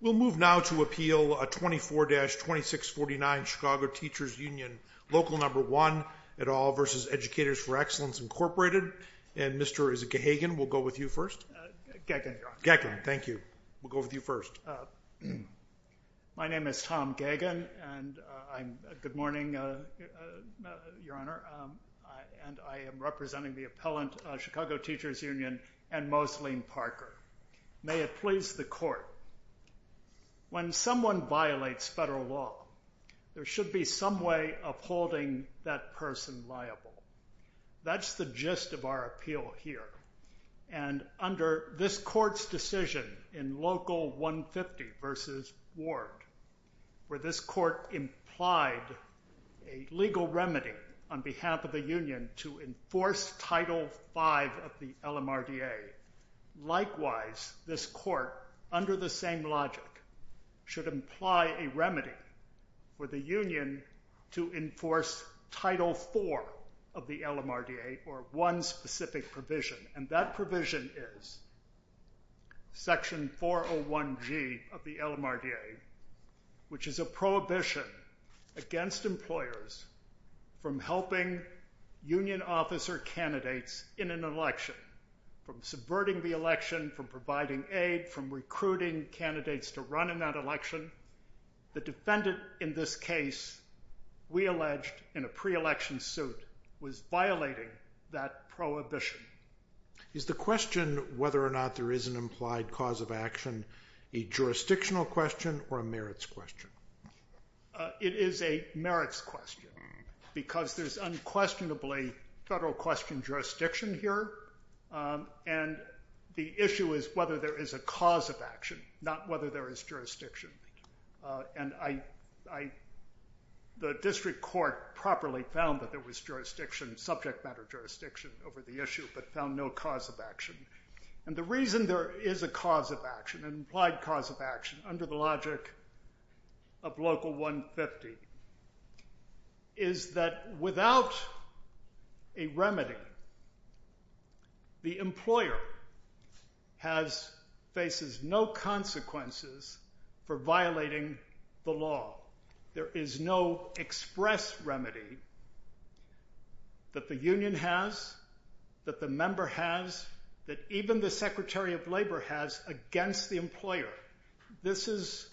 We'll move now to appeal 24-2649 Chicago Teachers Union, Local v. Educators for Excellence, Mr. Gagin, we'll go with you first. My name is Tom Gagin. Good morning, Your Honor. I am representing the appellant, Chicago Teachers Union, and Mosleen Parker. May it please the Court, when someone violates federal law, there should be some way of holding that person liable. That's the gist of our appeal here, and under this Court's decision in Local 150 v. Ward, where this Court implied a legal remedy on behalf of the Union to enforce Title V of the LMRDA, likewise, this Court, under the same logic, should imply a remedy for the Union to enforce Title IV of the LMRDA, or one specific provision, and that provision is Section 401G of the LMRDA, which is a prohibition against employers from helping union officer candidates in an election, from subverting the election, from providing aid, from recruiting candidates to run in that election. The defendant in this case, we alleged, in a pre-election suit, was violating that prohibition. Is the question whether or not there is an implied cause of action a jurisdictional question or a merits question? It is a merits question, because there's unquestionably federal question jurisdiction here, and the issue is whether there is a cause of action, not whether there is jurisdiction. The District Court properly found that there was jurisdiction, subject matter jurisdiction, over the issue, but found no cause of action. And the reason there is a cause of action, an implied cause of action, under the logic of Local 150, is that without a remedy, the employer has, faces no consequences for violating the law. There is no express remedy that the union has, that the member has, that even the Secretary of Labor has against the employer. This is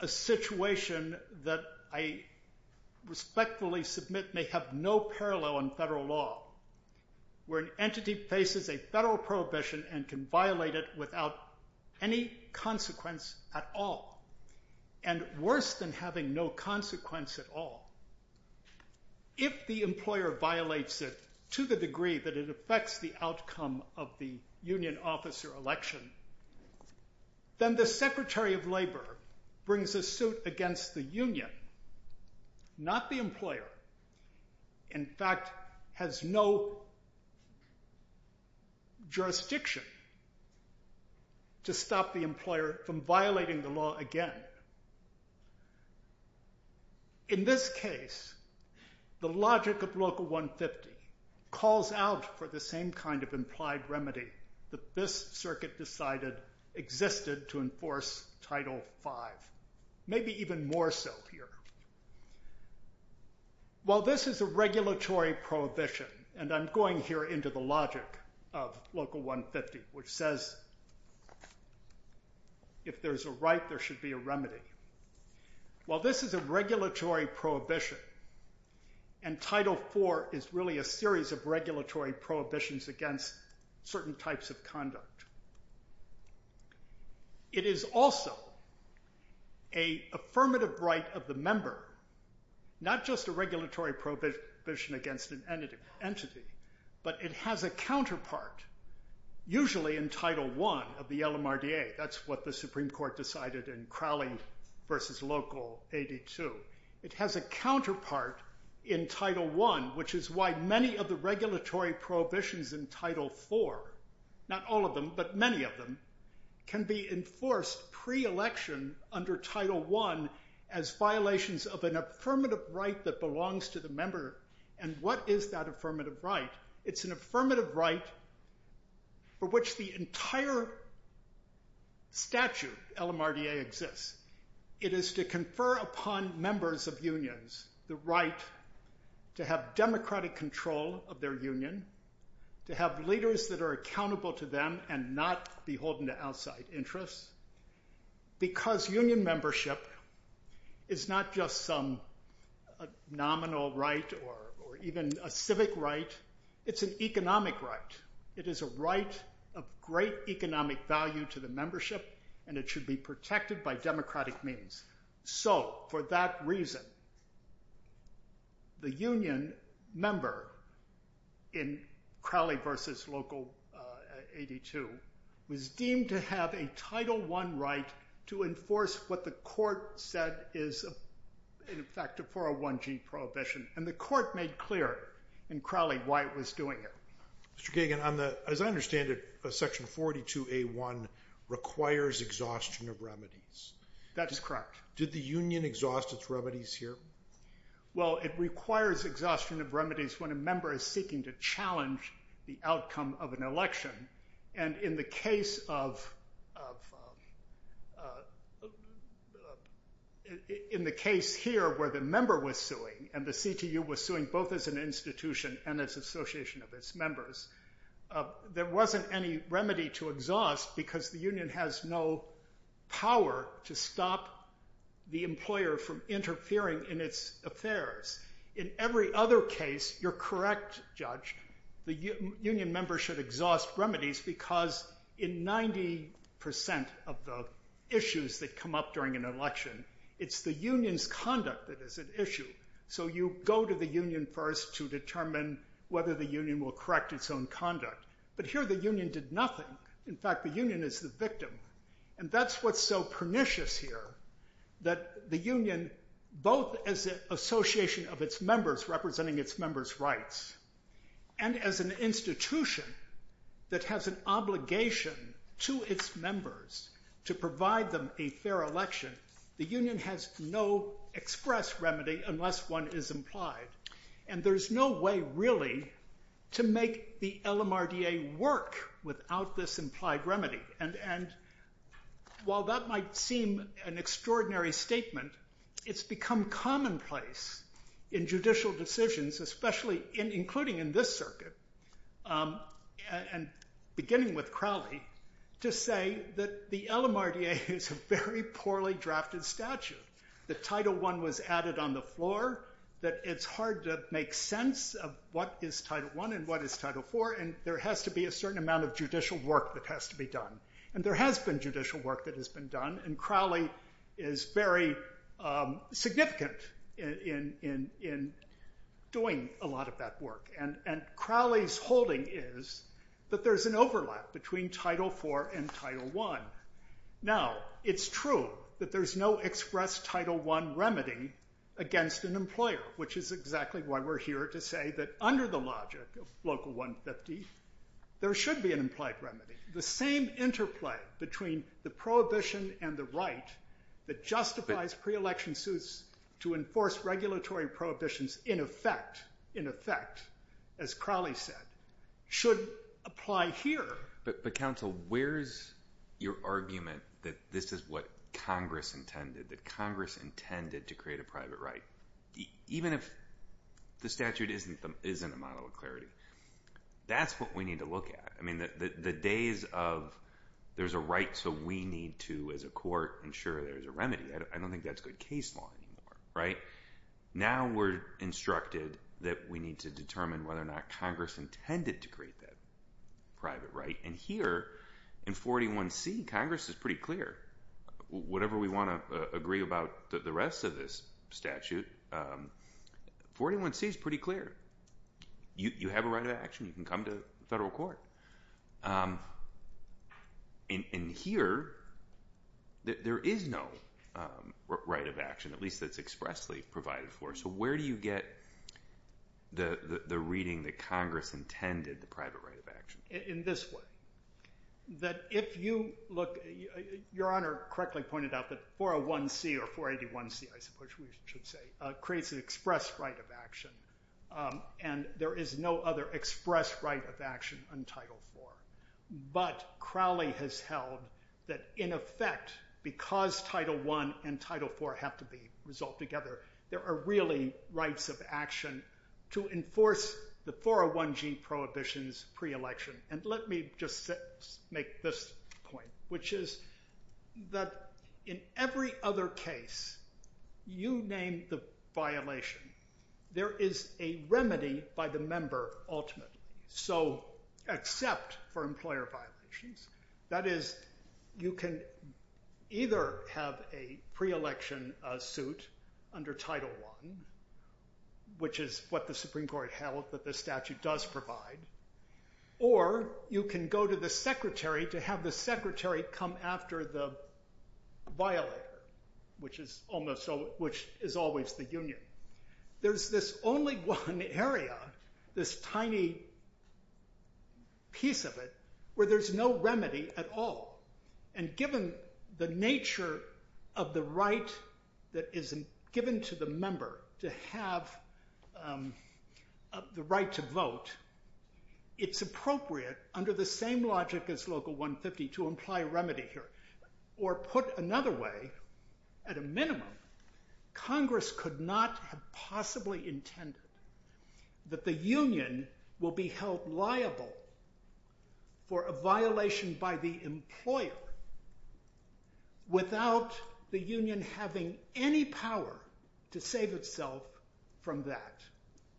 a situation that I respectfully submit may have no parallel in federal law, where an entity faces a federal prohibition and can violate it without any consequence at all. And worse than having no consequence at all, if the employer violates it to the degree that it affects the outcome of the union officer election, then the Secretary of Labor brings a suit against the union, not the employer, in fact has no jurisdiction to stop the employer from violating the law again. In this case, the logic of Local 150 calls out for the same kind of implied remedy that this circuit decided existed to enforce Title V, maybe even more so here. While this is a regulatory prohibition, and I'm going here into the logic of Local 150, which says if there's a right, there should be a remedy. While this is a regulatory prohibition, and Title IV is really a series of regulatory prohibitions against certain types of conduct, it is also an affirmative right of the member, not just a regulatory prohibition against an entity, but it has a counterpart, usually in Title I of the LMRDA. That's what the Supreme Court decided in Crowley v. Local 82. It has a counterpart in Title I, which is why many of the regulatory prohibitions in Title IV, not all of them, but many of them, can be enforced pre-election under Title I as violations of an affirmative right that belongs to the member. And what is that affirmative right? It's an affirmative right for which the entire statute, LMRDA, exists. It is to confer upon members of unions the right to have democratic control of their union, to have leaders that are accountable to them and not beholden to outside interests, because union membership is not just some nominal right or even a civic right, it's an economic right. It is a right of great economic value to the membership, and it should be protected by democratic means. So, for that reason, the union member in Crowley v. Local 82 was deemed to have a Title I right to enforce what the court said is, in effect, a 401G prohibition. And the court made clear in Crowley why it was doing it. Mr. Kagan, as I understand it, Section 42A1 requires exhaustion of remedies. That is correct. Did the union exhaust its remedies here? Well, it requires exhaustion of remedies when a member is seeking to challenge the outcome of an election. And in the case here where the member was suing, and the CTU was suing both as an institution and as an association of its members, there wasn't any remedy to exhaust because the union has no power to stop the employer from interfering in its affairs. In every other case, you're correct, Judge, the union member should exhaust remedies because in 90% of the issues that come up during an election, it's the union's conduct that is at issue. So you go to the union first to determine whether the union will correct its own conduct. But here the union did nothing. In fact, the union is the victim. And that's what's so pernicious here, that the union, both as an association of its members, representing its members' rights, and as an institution that has an obligation to its members to provide them a fair election, the union has no express remedy unless one is implied. And there's no way, really, to make the LMRDA work without this implied remedy. And while that might seem an extraordinary statement, it's become commonplace in judicial decisions, especially including in this circuit, and beginning with Crowley, to say that the LMRDA is a very poorly drafted statute. The Title I was added on the floor, that it's hard to make sense of what is Title I and what is Title IV, and there has to be a certain amount of judicial work that has to be done. And there has been judicial work that has been done, and Crowley is very significant in doing a lot of that work. And Crowley's holding is that there's an overlap between Title IV and Title I. Now, it's true that there's no express Title I remedy against an employer, which is exactly why we're here to say that under the logic of Local 150, there should be an implied remedy. The same interplay between the prohibition and the right that justifies pre-election suits to enforce regulatory prohibitions in effect, as Crowley said, should apply here. But, counsel, where's your argument that this is what Congress intended, that Congress intended to create a private right, even if the statute isn't a model of clarity? That's what we need to look at. I mean, the days of, there's a right, so we need to, as a court, ensure there's a remedy. I don't think that's good case law anymore, right? Now we're instructed that we need to determine whether or not Congress intended to create that private right. And here, in 41C, Congress is pretty clear. Whatever we want to agree about the rest of this statute, 41C is pretty clear. You have a right of action. You can come to federal court. And here, there is no right of action, at least that's expressly provided for. So where do you get the reading that Congress intended the private right of action? In this way. That if you look, Your Honor correctly pointed out that 401C, or 481C, I suppose we should say, creates an express right of action, and there is no other express right of action on Title IV. But Crowley has held that, in effect, because Title I and Title IV have to be resolved together, there are really rights of action to enforce the 401G prohibitions pre-election. And let me just make this point, which is that in every other case, you name the violation, there is a remedy by the member ultimately. So, except for employer violations. That is, you can either have a pre-election suit under Title I, which is what the Supreme Court held that this statute does provide, or you can go to the secretary to have the secretary come after the violator, which is always the union. There's this only one area, this tiny piece of it, where there's no remedy at all. And given the nature of the right that is given to the member to have the right to vote, it's appropriate, under the same logic as Local 150, to imply a remedy here. Or put another way, at a minimum, Congress could not have possibly intended that the union will be held liable for a violation by the employer without the union having any power to save itself from that.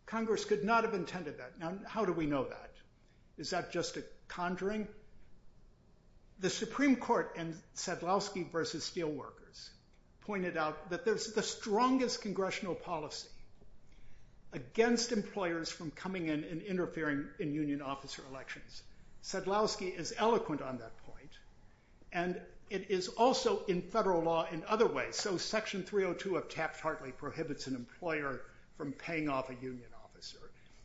Congress could not have intended that. Now, how do we know that? Is that just a conjuring? The Supreme Court in Sadlowski v. Steelworkers pointed out that there's the strongest congressional policy against employers from coming in and interfering in union officer elections. Sadlowski is eloquent on that point, and it is also in federal law in other ways. So, Section 302 of Taft-Hartley prohibits an employer from paying off a union officer.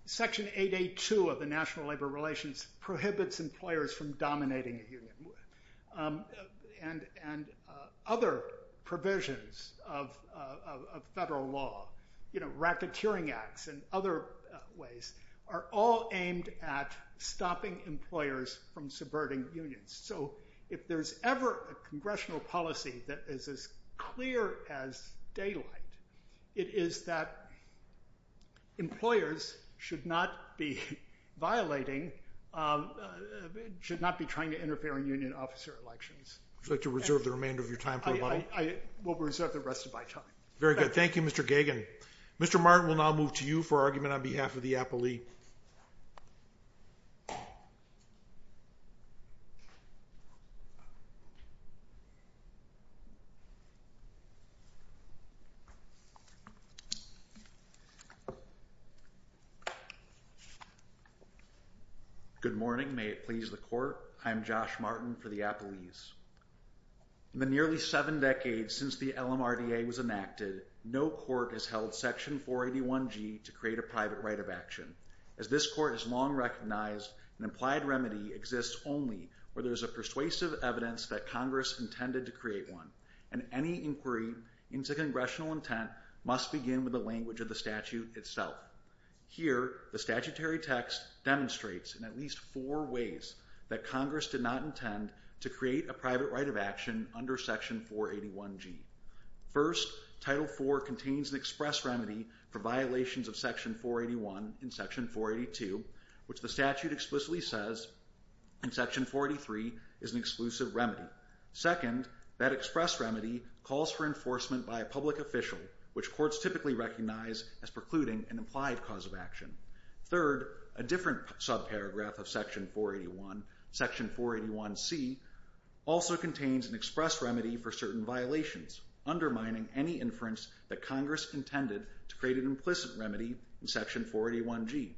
Section 882 of the National Labor Relations prohibits employers from dominating a union. And other provisions of federal law, you know, racketeering acts and other ways, are all aimed at stopping employers from subverting unions. So, if there's ever a congressional policy that is as clear as daylight, it is that employers should not be violating, should not be trying to interfere in union officer elections. Would you like to reserve the remainder of your time for a moment? I will reserve the rest of my time. Very good. Thank you, Mr. Gagin. Mr. Martin will now move to you for argument on behalf of the appellee. Good morning. May it please the Court. I am Josh Martin for the Appellees. In the nearly seven decades since the LMRDA was enacted, no court has held Section 481g to create a private right of action. As this Court has long recognized, an implied remedy exists only where there is a persuasive evidence that Congress intended to create one, and any inquiry into congressional intent must begin with the language of the statute itself. Here, the statutory text demonstrates, in at least four ways, that Congress did not intend to create a private right of action under Section 481g. First, Title IV contains an express remedy for violations of Section 481 and Section 482, which the statute explicitly says in Section 483 is an exclusive remedy. Second, that express remedy calls for enforcement by a public official, which courts typically recognize as precluding an implied cause of action. Third, a different subparagraph of Section 481, Section 481c, also contains an express remedy for certain violations, undermining any inference that Congress intended to create an implicit remedy in Section 481g.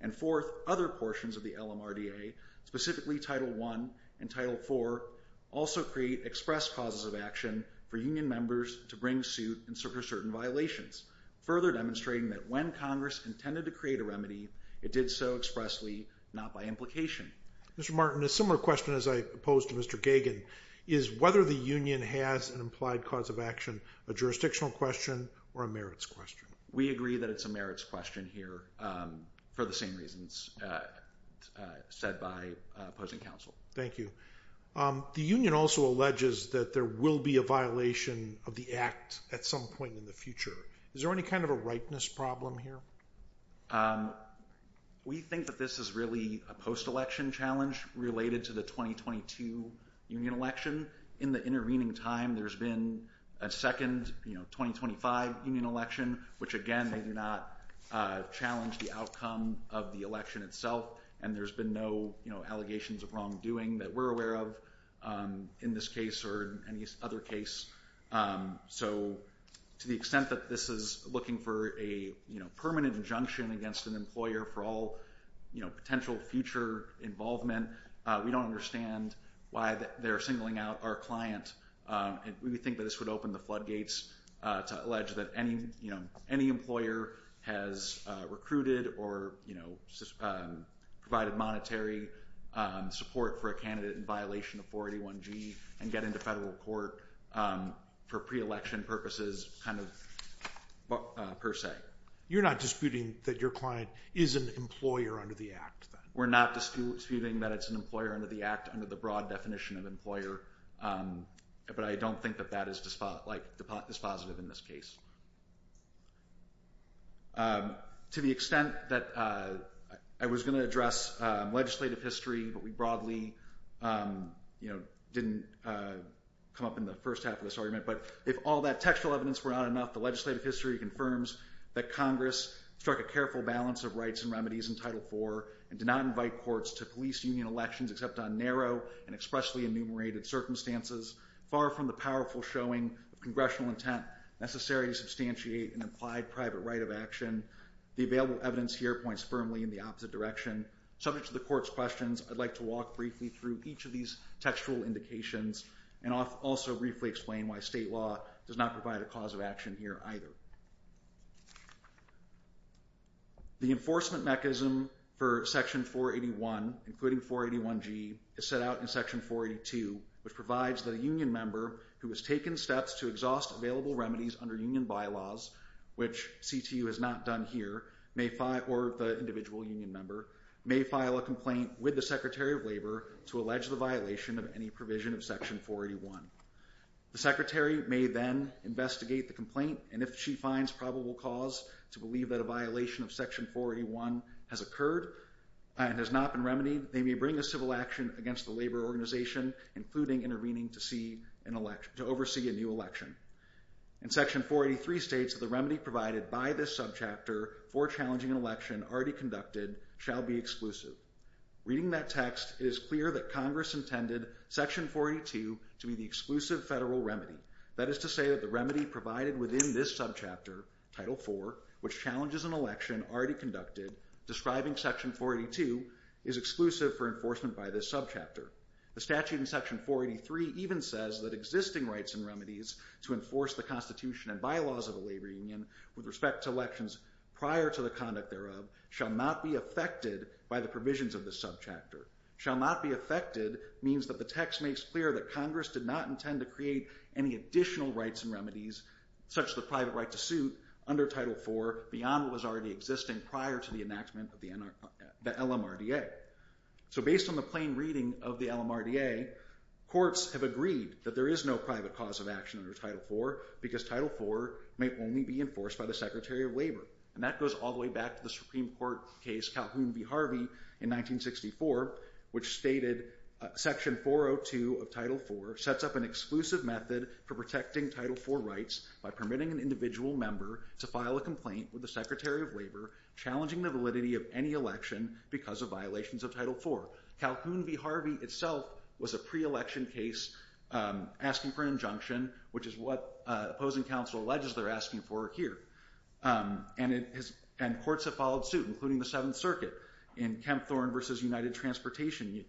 And fourth, other portions of the LMRDA, specifically Title I and Title IV, also create express causes of action for union members to bring suit in search of certain violations, further demonstrating that when Congress intended to create a remedy, it did so expressly, not by implication. Mr. Martin, a similar question as I posed to Mr. Gagin, is whether the union has an implied cause of action a jurisdictional question or a merits question. We agree that it's a merits question here for the same reasons said by opposing counsel. Thank you. The union also alleges that there will be a violation of the Act at some point in the future. Is there any kind of a rightness problem here? We think that this is really a post-election challenge related to the 2022 union election. In the intervening time, there's been a second, you know, 2025 union election, which again, they do not challenge the outcome of the election itself, and there's been no allegations of wrongdoing that we're aware of in this case or any other case. So to the extent that this is looking for a permanent injunction against an employer for all potential future involvement, we don't understand why they're singling out our client. We think that this would open the floodgates to allege that any employer has recruited or, you know, provided monetary support for a candidate in violation of 481G and get into federal court for pre-election purposes per se. You're not disputing that your client is an employer under the Act? We're not disputing that it's an employer under the Act under the broad definition of employer, but I don't think that that is dispositive in this case. To the extent that I was going to address legislative history, but we broadly didn't come up in the first half of this argument, but if all that textual evidence were not enough, the legislative history confirms that Congress struck a careful balance of rights and remedies in Title IV and did not invite courts to police union elections except on narrow and expressly enumerated circumstances, far from the powerful showing of congressional intent necessary to substantiate an implied private right of action. The available evidence here points firmly in the opposite direction. Subject to the court's questions, I'd like to walk briefly through each of these textual indications and also briefly explain why state law does not provide a cause of action here either. The enforcement mechanism for Section 481, including 481G, is set out in Section 482, which provides that a union member who has taken steps to exhaust available remedies under union bylaws, which CTU has not done here, or the individual union member, may file a complaint with the Secretary of Labor to allege the violation of any provision of Section 481. The Secretary may then investigate the complaint and if she finds probable cause to believe that a violation of Section 481 has occurred and has not been remedied, they may bring a civil action against the labor organization, including intervening to oversee a new election. And Section 483 states that the remedy provided by this subchapter for challenging an election already conducted shall be exclusive. Reading that text, it is clear that Congress intended Section 482 to be the exclusive federal remedy. That is to say that the remedy provided within this subchapter, Title IV, which challenges an election already conducted, describing Section 482, is exclusive for enforcement by this subchapter. The statute in Section 483 even says that existing rights and remedies to enforce the Constitution and bylaws of a labor union with respect to elections prior to the conduct thereof shall not be affected by the provisions of this subchapter. Shall not be affected means that the text makes clear that Congress did not intend to create any additional rights and remedies, such as the private right to suit, under Title IV, beyond what was already existing prior to the enactment of the LMRDA. So based on the plain reading of the LMRDA, courts have agreed that there is no private cause of action under Title IV because Title IV may only be enforced by the Secretary of Labor. And that goes all the way back to the Supreme Court case Calhoun v. Harvey in 1964 which stated Section 402 of Title IV sets up an exclusive method for protecting Title IV rights by permitting an individual member to file a complaint with the Secretary of Labor challenging the validity of any election because of violations of Title IV. Calhoun v. Harvey itself was a pre-election case asking for an injunction which is what opposing counsel alleges they're asking for here. And courts have followed suit, including the Seventh Circuit in Kempthorne v. United Transportation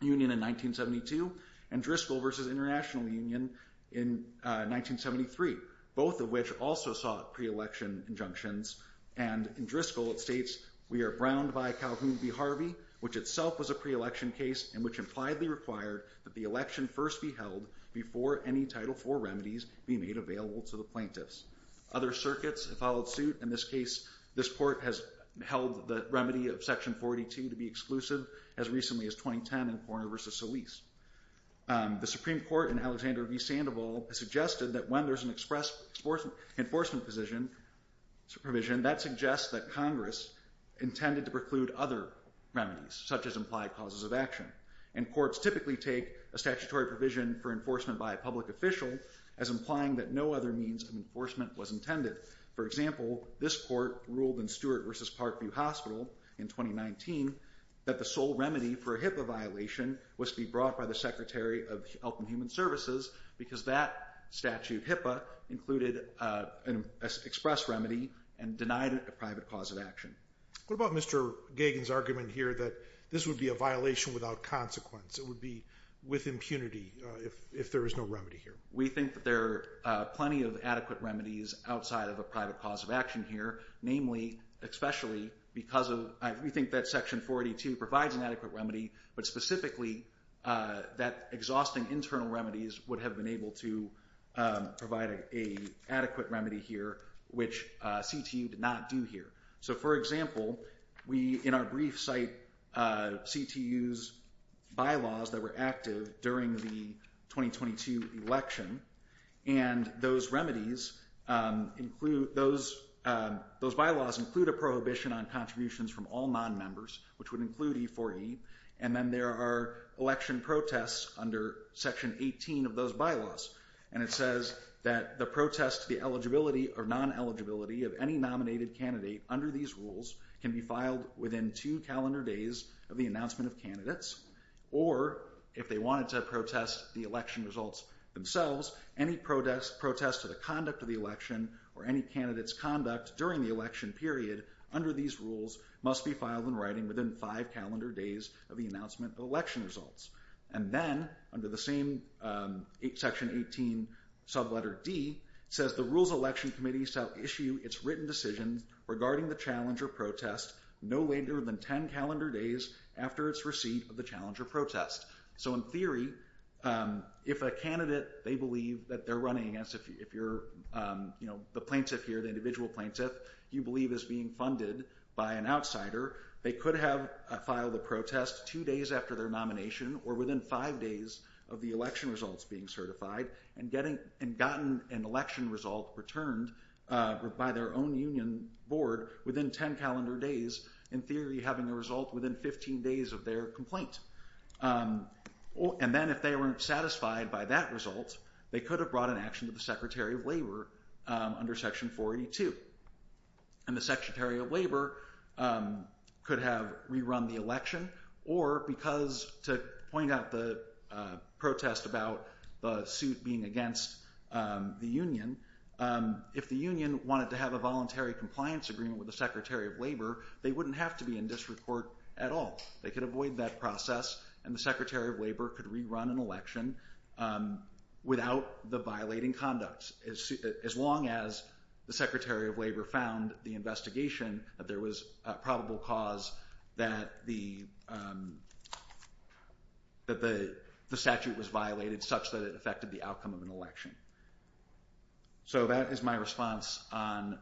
Union in 1972 and Driscoll v. International Union in 1973 both of which also sought pre-election injunctions and in Driscoll it states We are browned by Calhoun v. Harvey which itself was a pre-election case and which impliedly required that the election first be held before any Title IV remedies be made available to the plaintiffs. Other circuits have followed suit. In this case, this court has held the remedy of Section 42 to be exclusive as recently as 2010 in Horner v. Solis. The Supreme Court in Alexander v. Sandoval suggested that when there's an express enforcement provision that suggests that Congress intended to preclude other remedies such as implied causes of action and courts typically take a statutory provision for enforcement by a public official as implying that no other means of enforcement was intended. For example, this court ruled in Stewart v. Parkview Hospital in 2019 that the sole remedy for a HIPAA violation was to be brought by the Secretary of Health and Human Services because that statute HIPAA included an express remedy and denied it a private cause of action. What about Mr. Gagin's argument here that this would be a violation without consequence? It would be with impunity if there is no remedy here? We think that there are plenty of adequate remedies outside of a private cause of action here, namely especially because of we think that Section 42 provides an adequate remedy, but specifically that exhausting internal remedies would have been able to provide an adequate remedy here, which CTU did not do here. So for example, we in our brief cite CTU's bylaws that were active during the 2022 election and those remedies include those bylaws include a prohibition on contributions from all non-members which would include E4E and then there are election protests under Section 18 of those bylaws and it says that the protest to the eligibility or non-eligibility of any nominated candidate under these rules can be filed within two calendar days of the announcement of candidates or if they wanted to protest the election results themselves any protest to the conduct of the election or any candidate's conduct during the election period under these rules must be filed in writing within five calendar days of the announcement of election results. And then under the same Section 18 sub-letter D says the rules election committee shall issue its written decisions regarding the challenge or protest no later than ten calendar days after its receipt of the challenge or protest. So in theory if a candidate they believe that they're running against if you're the plaintiff here the individual plaintiff you believe is being funded by an outsider they could have filed a protest two days after their nomination or within five days of the election results being certified and gotten an election result returned by their own union board within ten calendar days in theory having a result within fifteen days of their complaint. And then if they weren't satisfied by that result they could have brought an action to the Secretary of Labor under Section 482 and the Secretary of Labor could have rerun the election or because to point out the protest about the suit being against the union if the union wanted to have a voluntary compliance agreement with the Secretary of Labor they wouldn't have to be in district court at all. They could avoid that process and the Secretary of Labor could rerun an election without the violating conducts as long as the Secretary of Labor found the investigation that there was probable cause that the that the statute was violated such that it affected the outcome of an election. So that is my response on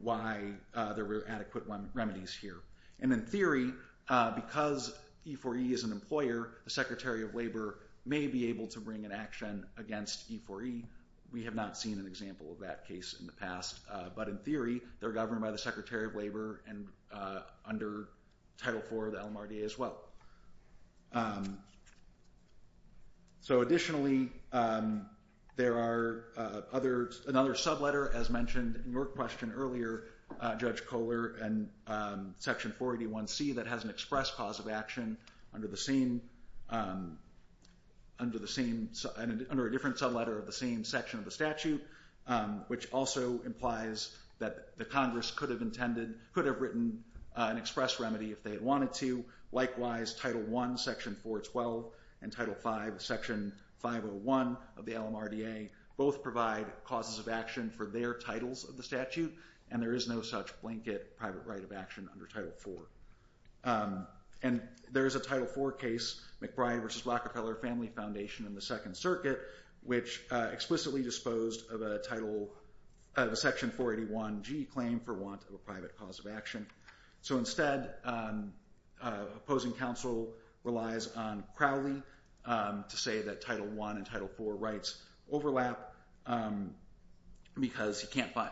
why there were adequate remedies here. And in theory because E4E is an employer the Secretary of Labor may be able to bring an action against E4E. We have not seen an example of that case in the past but in theory they're governed by the Secretary of Labor and under Title IV of the LMRDA as well. So additionally there are another sub-letter as mentioned in your question earlier Judge Kohler and Section 481C that has an express cause of action under the same under the same under a different sub-letter of the same section of the statute which also implies that the Congress could have intended could have written an express remedy if they wanted to likewise Title I, Section 412 and Title V, Section 501 of the LMRDA both provide causes of action for their titles of the statute and there is no such blanket private right of action under Title IV. And there is a Title IV case McBride v. Rockefeller Family Foundation and the Second Circuit which explicitly disposed of a Section 481G claim for want of a private cause of action. So instead opposing counsel relies on Crowley to say that Title I and Title IV rights overlap because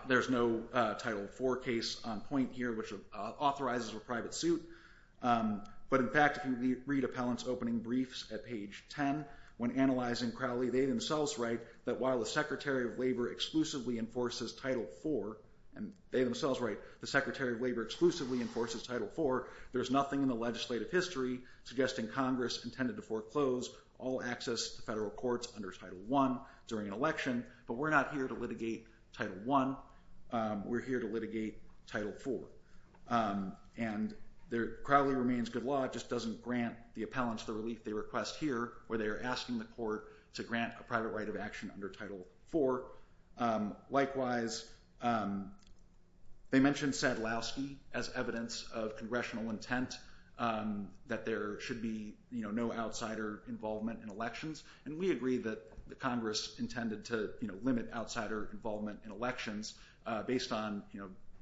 there's no Title IV case on point here which authorizes a private suit but in fact if you read appellant's opening briefs at page 10 when analyzing Crowley they themselves write that while the Secretary of Labor exclusively enforces Title IV and they themselves write the Secretary of Labor exclusively enforces Title IV there's nothing in the legislative history suggesting Congress intended to foreclose all access to federal courts under Title I during an election but we're not here to litigate Title I we're here to litigate Title IV and Crowley remains good law it just doesn't grant the appellants the relief they request here where they are asking the court to grant a private right of action under Title IV likewise they mention Sadlowski as evidence of congressional intent that there should be no outsider involvement in elections and we agree that Congress intended to limit outsider involvement in elections based on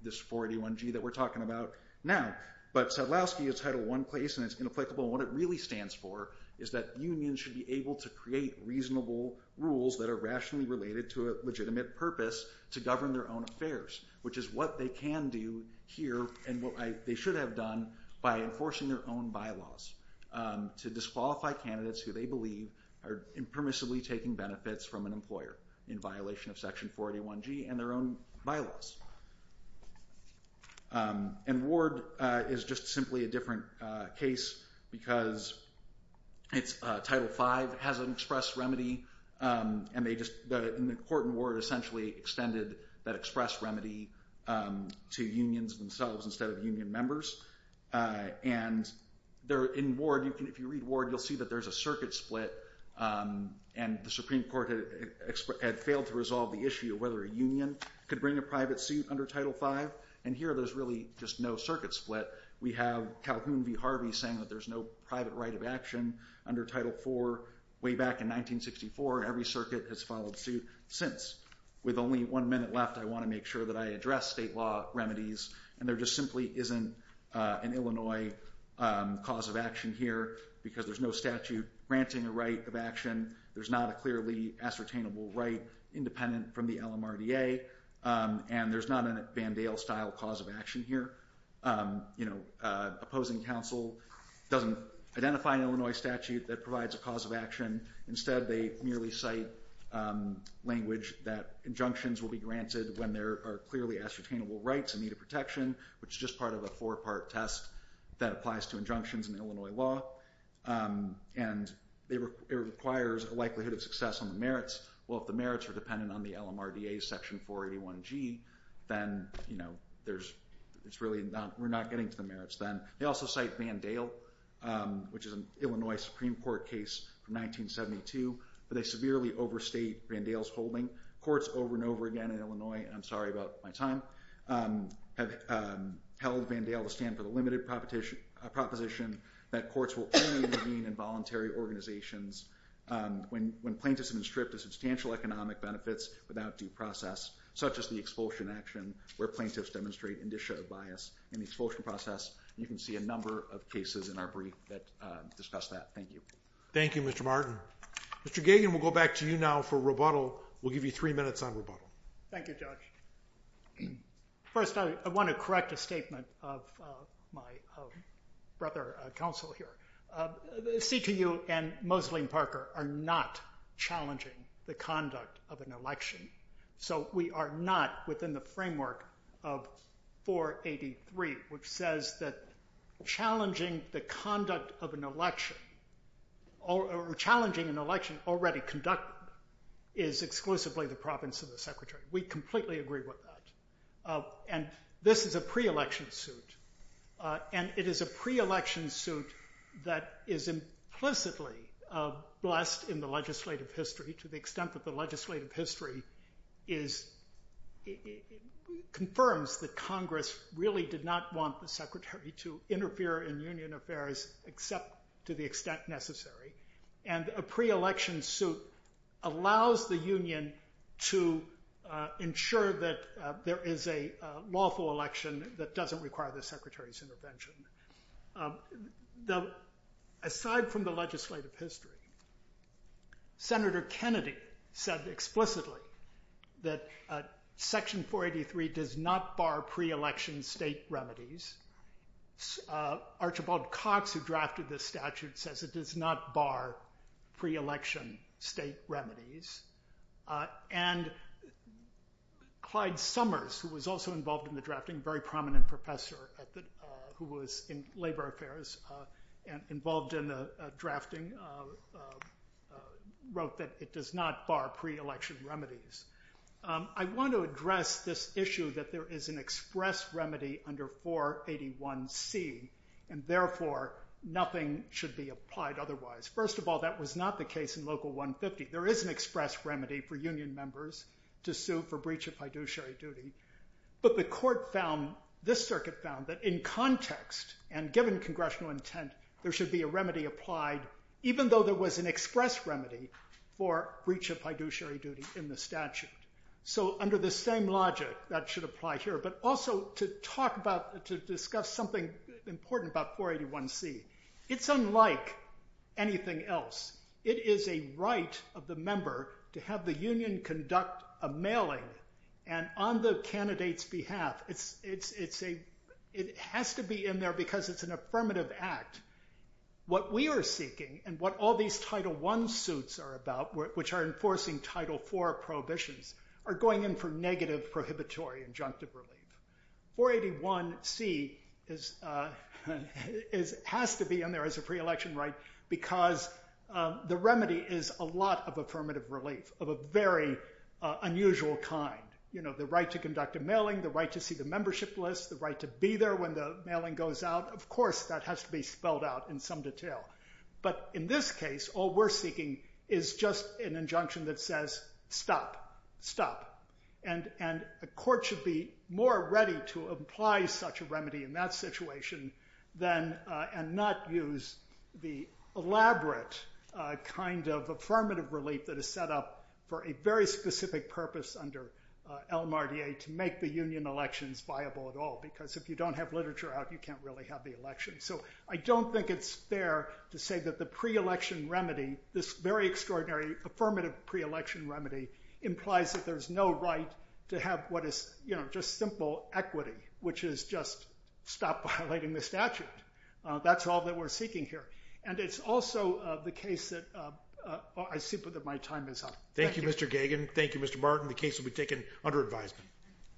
this 481G that we're talking about now but Sadlowski is Title I and it's inapplicable and what it really stands for is that unions should be able to create reasonable rules that are rationally related to a legitimate purpose to govern their own affairs which is what they can do here and what they should have done by enforcing their own bylaws to disqualify candidates who they believe are impermissibly taking benefits from an employer in violation of Section 481G and their own bylaws and Ward is just simply a different case because Title V has an express remedy and the court and Ward essentially extended that express remedy to unions themselves instead of union members and in Ward you'll see that there's a circuit split and the Supreme Court had failed to resolve the issue of whether a union could bring a private suit under Title V and here there's really just no circuit split we have Calhoun v. Harvey saying that there's no private right of action under Title IV way back in 1964, every circuit has followed suit since. With only one minute left I want to make sure that I address state law remedies and there just simply isn't an Illinois cause of action here because there's no statute granting a right of action, there's not a clearly ascertainable right independent from the LMRDA and there's not a Van Dale style cause of action here opposing counsel doesn't identify an Illinois statute that provides a cause of action, instead they merely cite language that injunctions will be granted when there are clearly ascertainable rights in need of protection, which is just part of a four part test that applies to injunctions in Illinois law and it requires a likelihood of success on the merits, well if the merits are dependent on the LMRDA section 481g then you know we're not getting to the merits then, they also cite Van Dale which is an Illinois Supreme Court case from 1972 but they severely overstate Van Dale's holding, courts over and over again in Illinois and I'm sorry about my time have held Van Dale to stand for the limited proposition that courts will only intervene in voluntary organizations when plaintiffs have been stripped of substantial economic benefits without due process, such as the expulsion action where plaintiffs demonstrate indicia of bias in the expulsion process you can see a number of cases in our brief that discuss that, thank you. Thank you Mr. Martin. Mr. Gagan we'll go back to you now for rebuttal we'll give you three minutes on rebuttal. Thank you Judge. First I want to correct a statement of my brother counsel here CTU and Mosley and Parker are not challenging the conduct of an election so we are not within the framework of 483 which says that challenging the conduct of an election or challenging an election already conducted is exclusively the province of the secretary we completely agree with that and this is a pre-election suit and it is a pre-election suit that is implicitly blessed in the legislative history to the extent that the legislative history is confirms that congress really did not want the secretary to interfere in union affairs except to the extent necessary and a pre-election suit allows the union to ensure that there is a lawful election that doesn't require the secretary's intervention the aside from the legislative history Senator Kennedy said explicitly that section 483 does not bar pre-election state remedies Archibald Cox who drafted this statute says it does not bar pre-election state remedies and Clyde Summers who was also involved in the drafting very prominent professor who was in labor affairs involved in the drafting wrote that it does not bar pre-election remedies I want to address this issue that there is an express remedy under 481c and therefore nothing should be applied otherwise first of all that was not the case in local 150 there is an express remedy for union members to sue for breach of fiduciary duty but the court found this circuit found that in context and given congressional intent there should be a remedy applied even though there was an express remedy for breach of fiduciary duty in the statute so under the same logic that should apply here but also to talk about discuss something important about 481c it's unlike anything else it is a right of the member to have the union conduct a mailing and on the candidate's behalf it has to be in there because it's an affirmative act what we are seeking and what all these title 1 suits are about which are enforcing title 4 prohibitions are going in for negative prohibitory injunctive relief 481c is has to be in there as a pre-election right because the remedy is a lot of affirmative relief of a very unusual kind you know the right to conduct a mailing the right to see the membership list the right to be there when the mailing goes out of course that has to be spelled out in some detail but in this case all we're seeking is just an injunction that says stop stop and the court should be more ready to apply such a remedy in that situation than and not use the elaborate kind of affirmative relief that is set up for a very specific purpose under El Mardier to make the union elections viable at all because if you don't have literature out you can't really have the election so I don't think it's fair to say that the pre-election remedy this very extraordinary affirmative pre-election remedy implies that there's no right to have what is just simple equity which is just stop violating the statute that's all that we're seeking here and it's also the case that I see that my time is up Thank you Mr. Gagin. Thank you Mr. Martin. The case will be taken under advisement.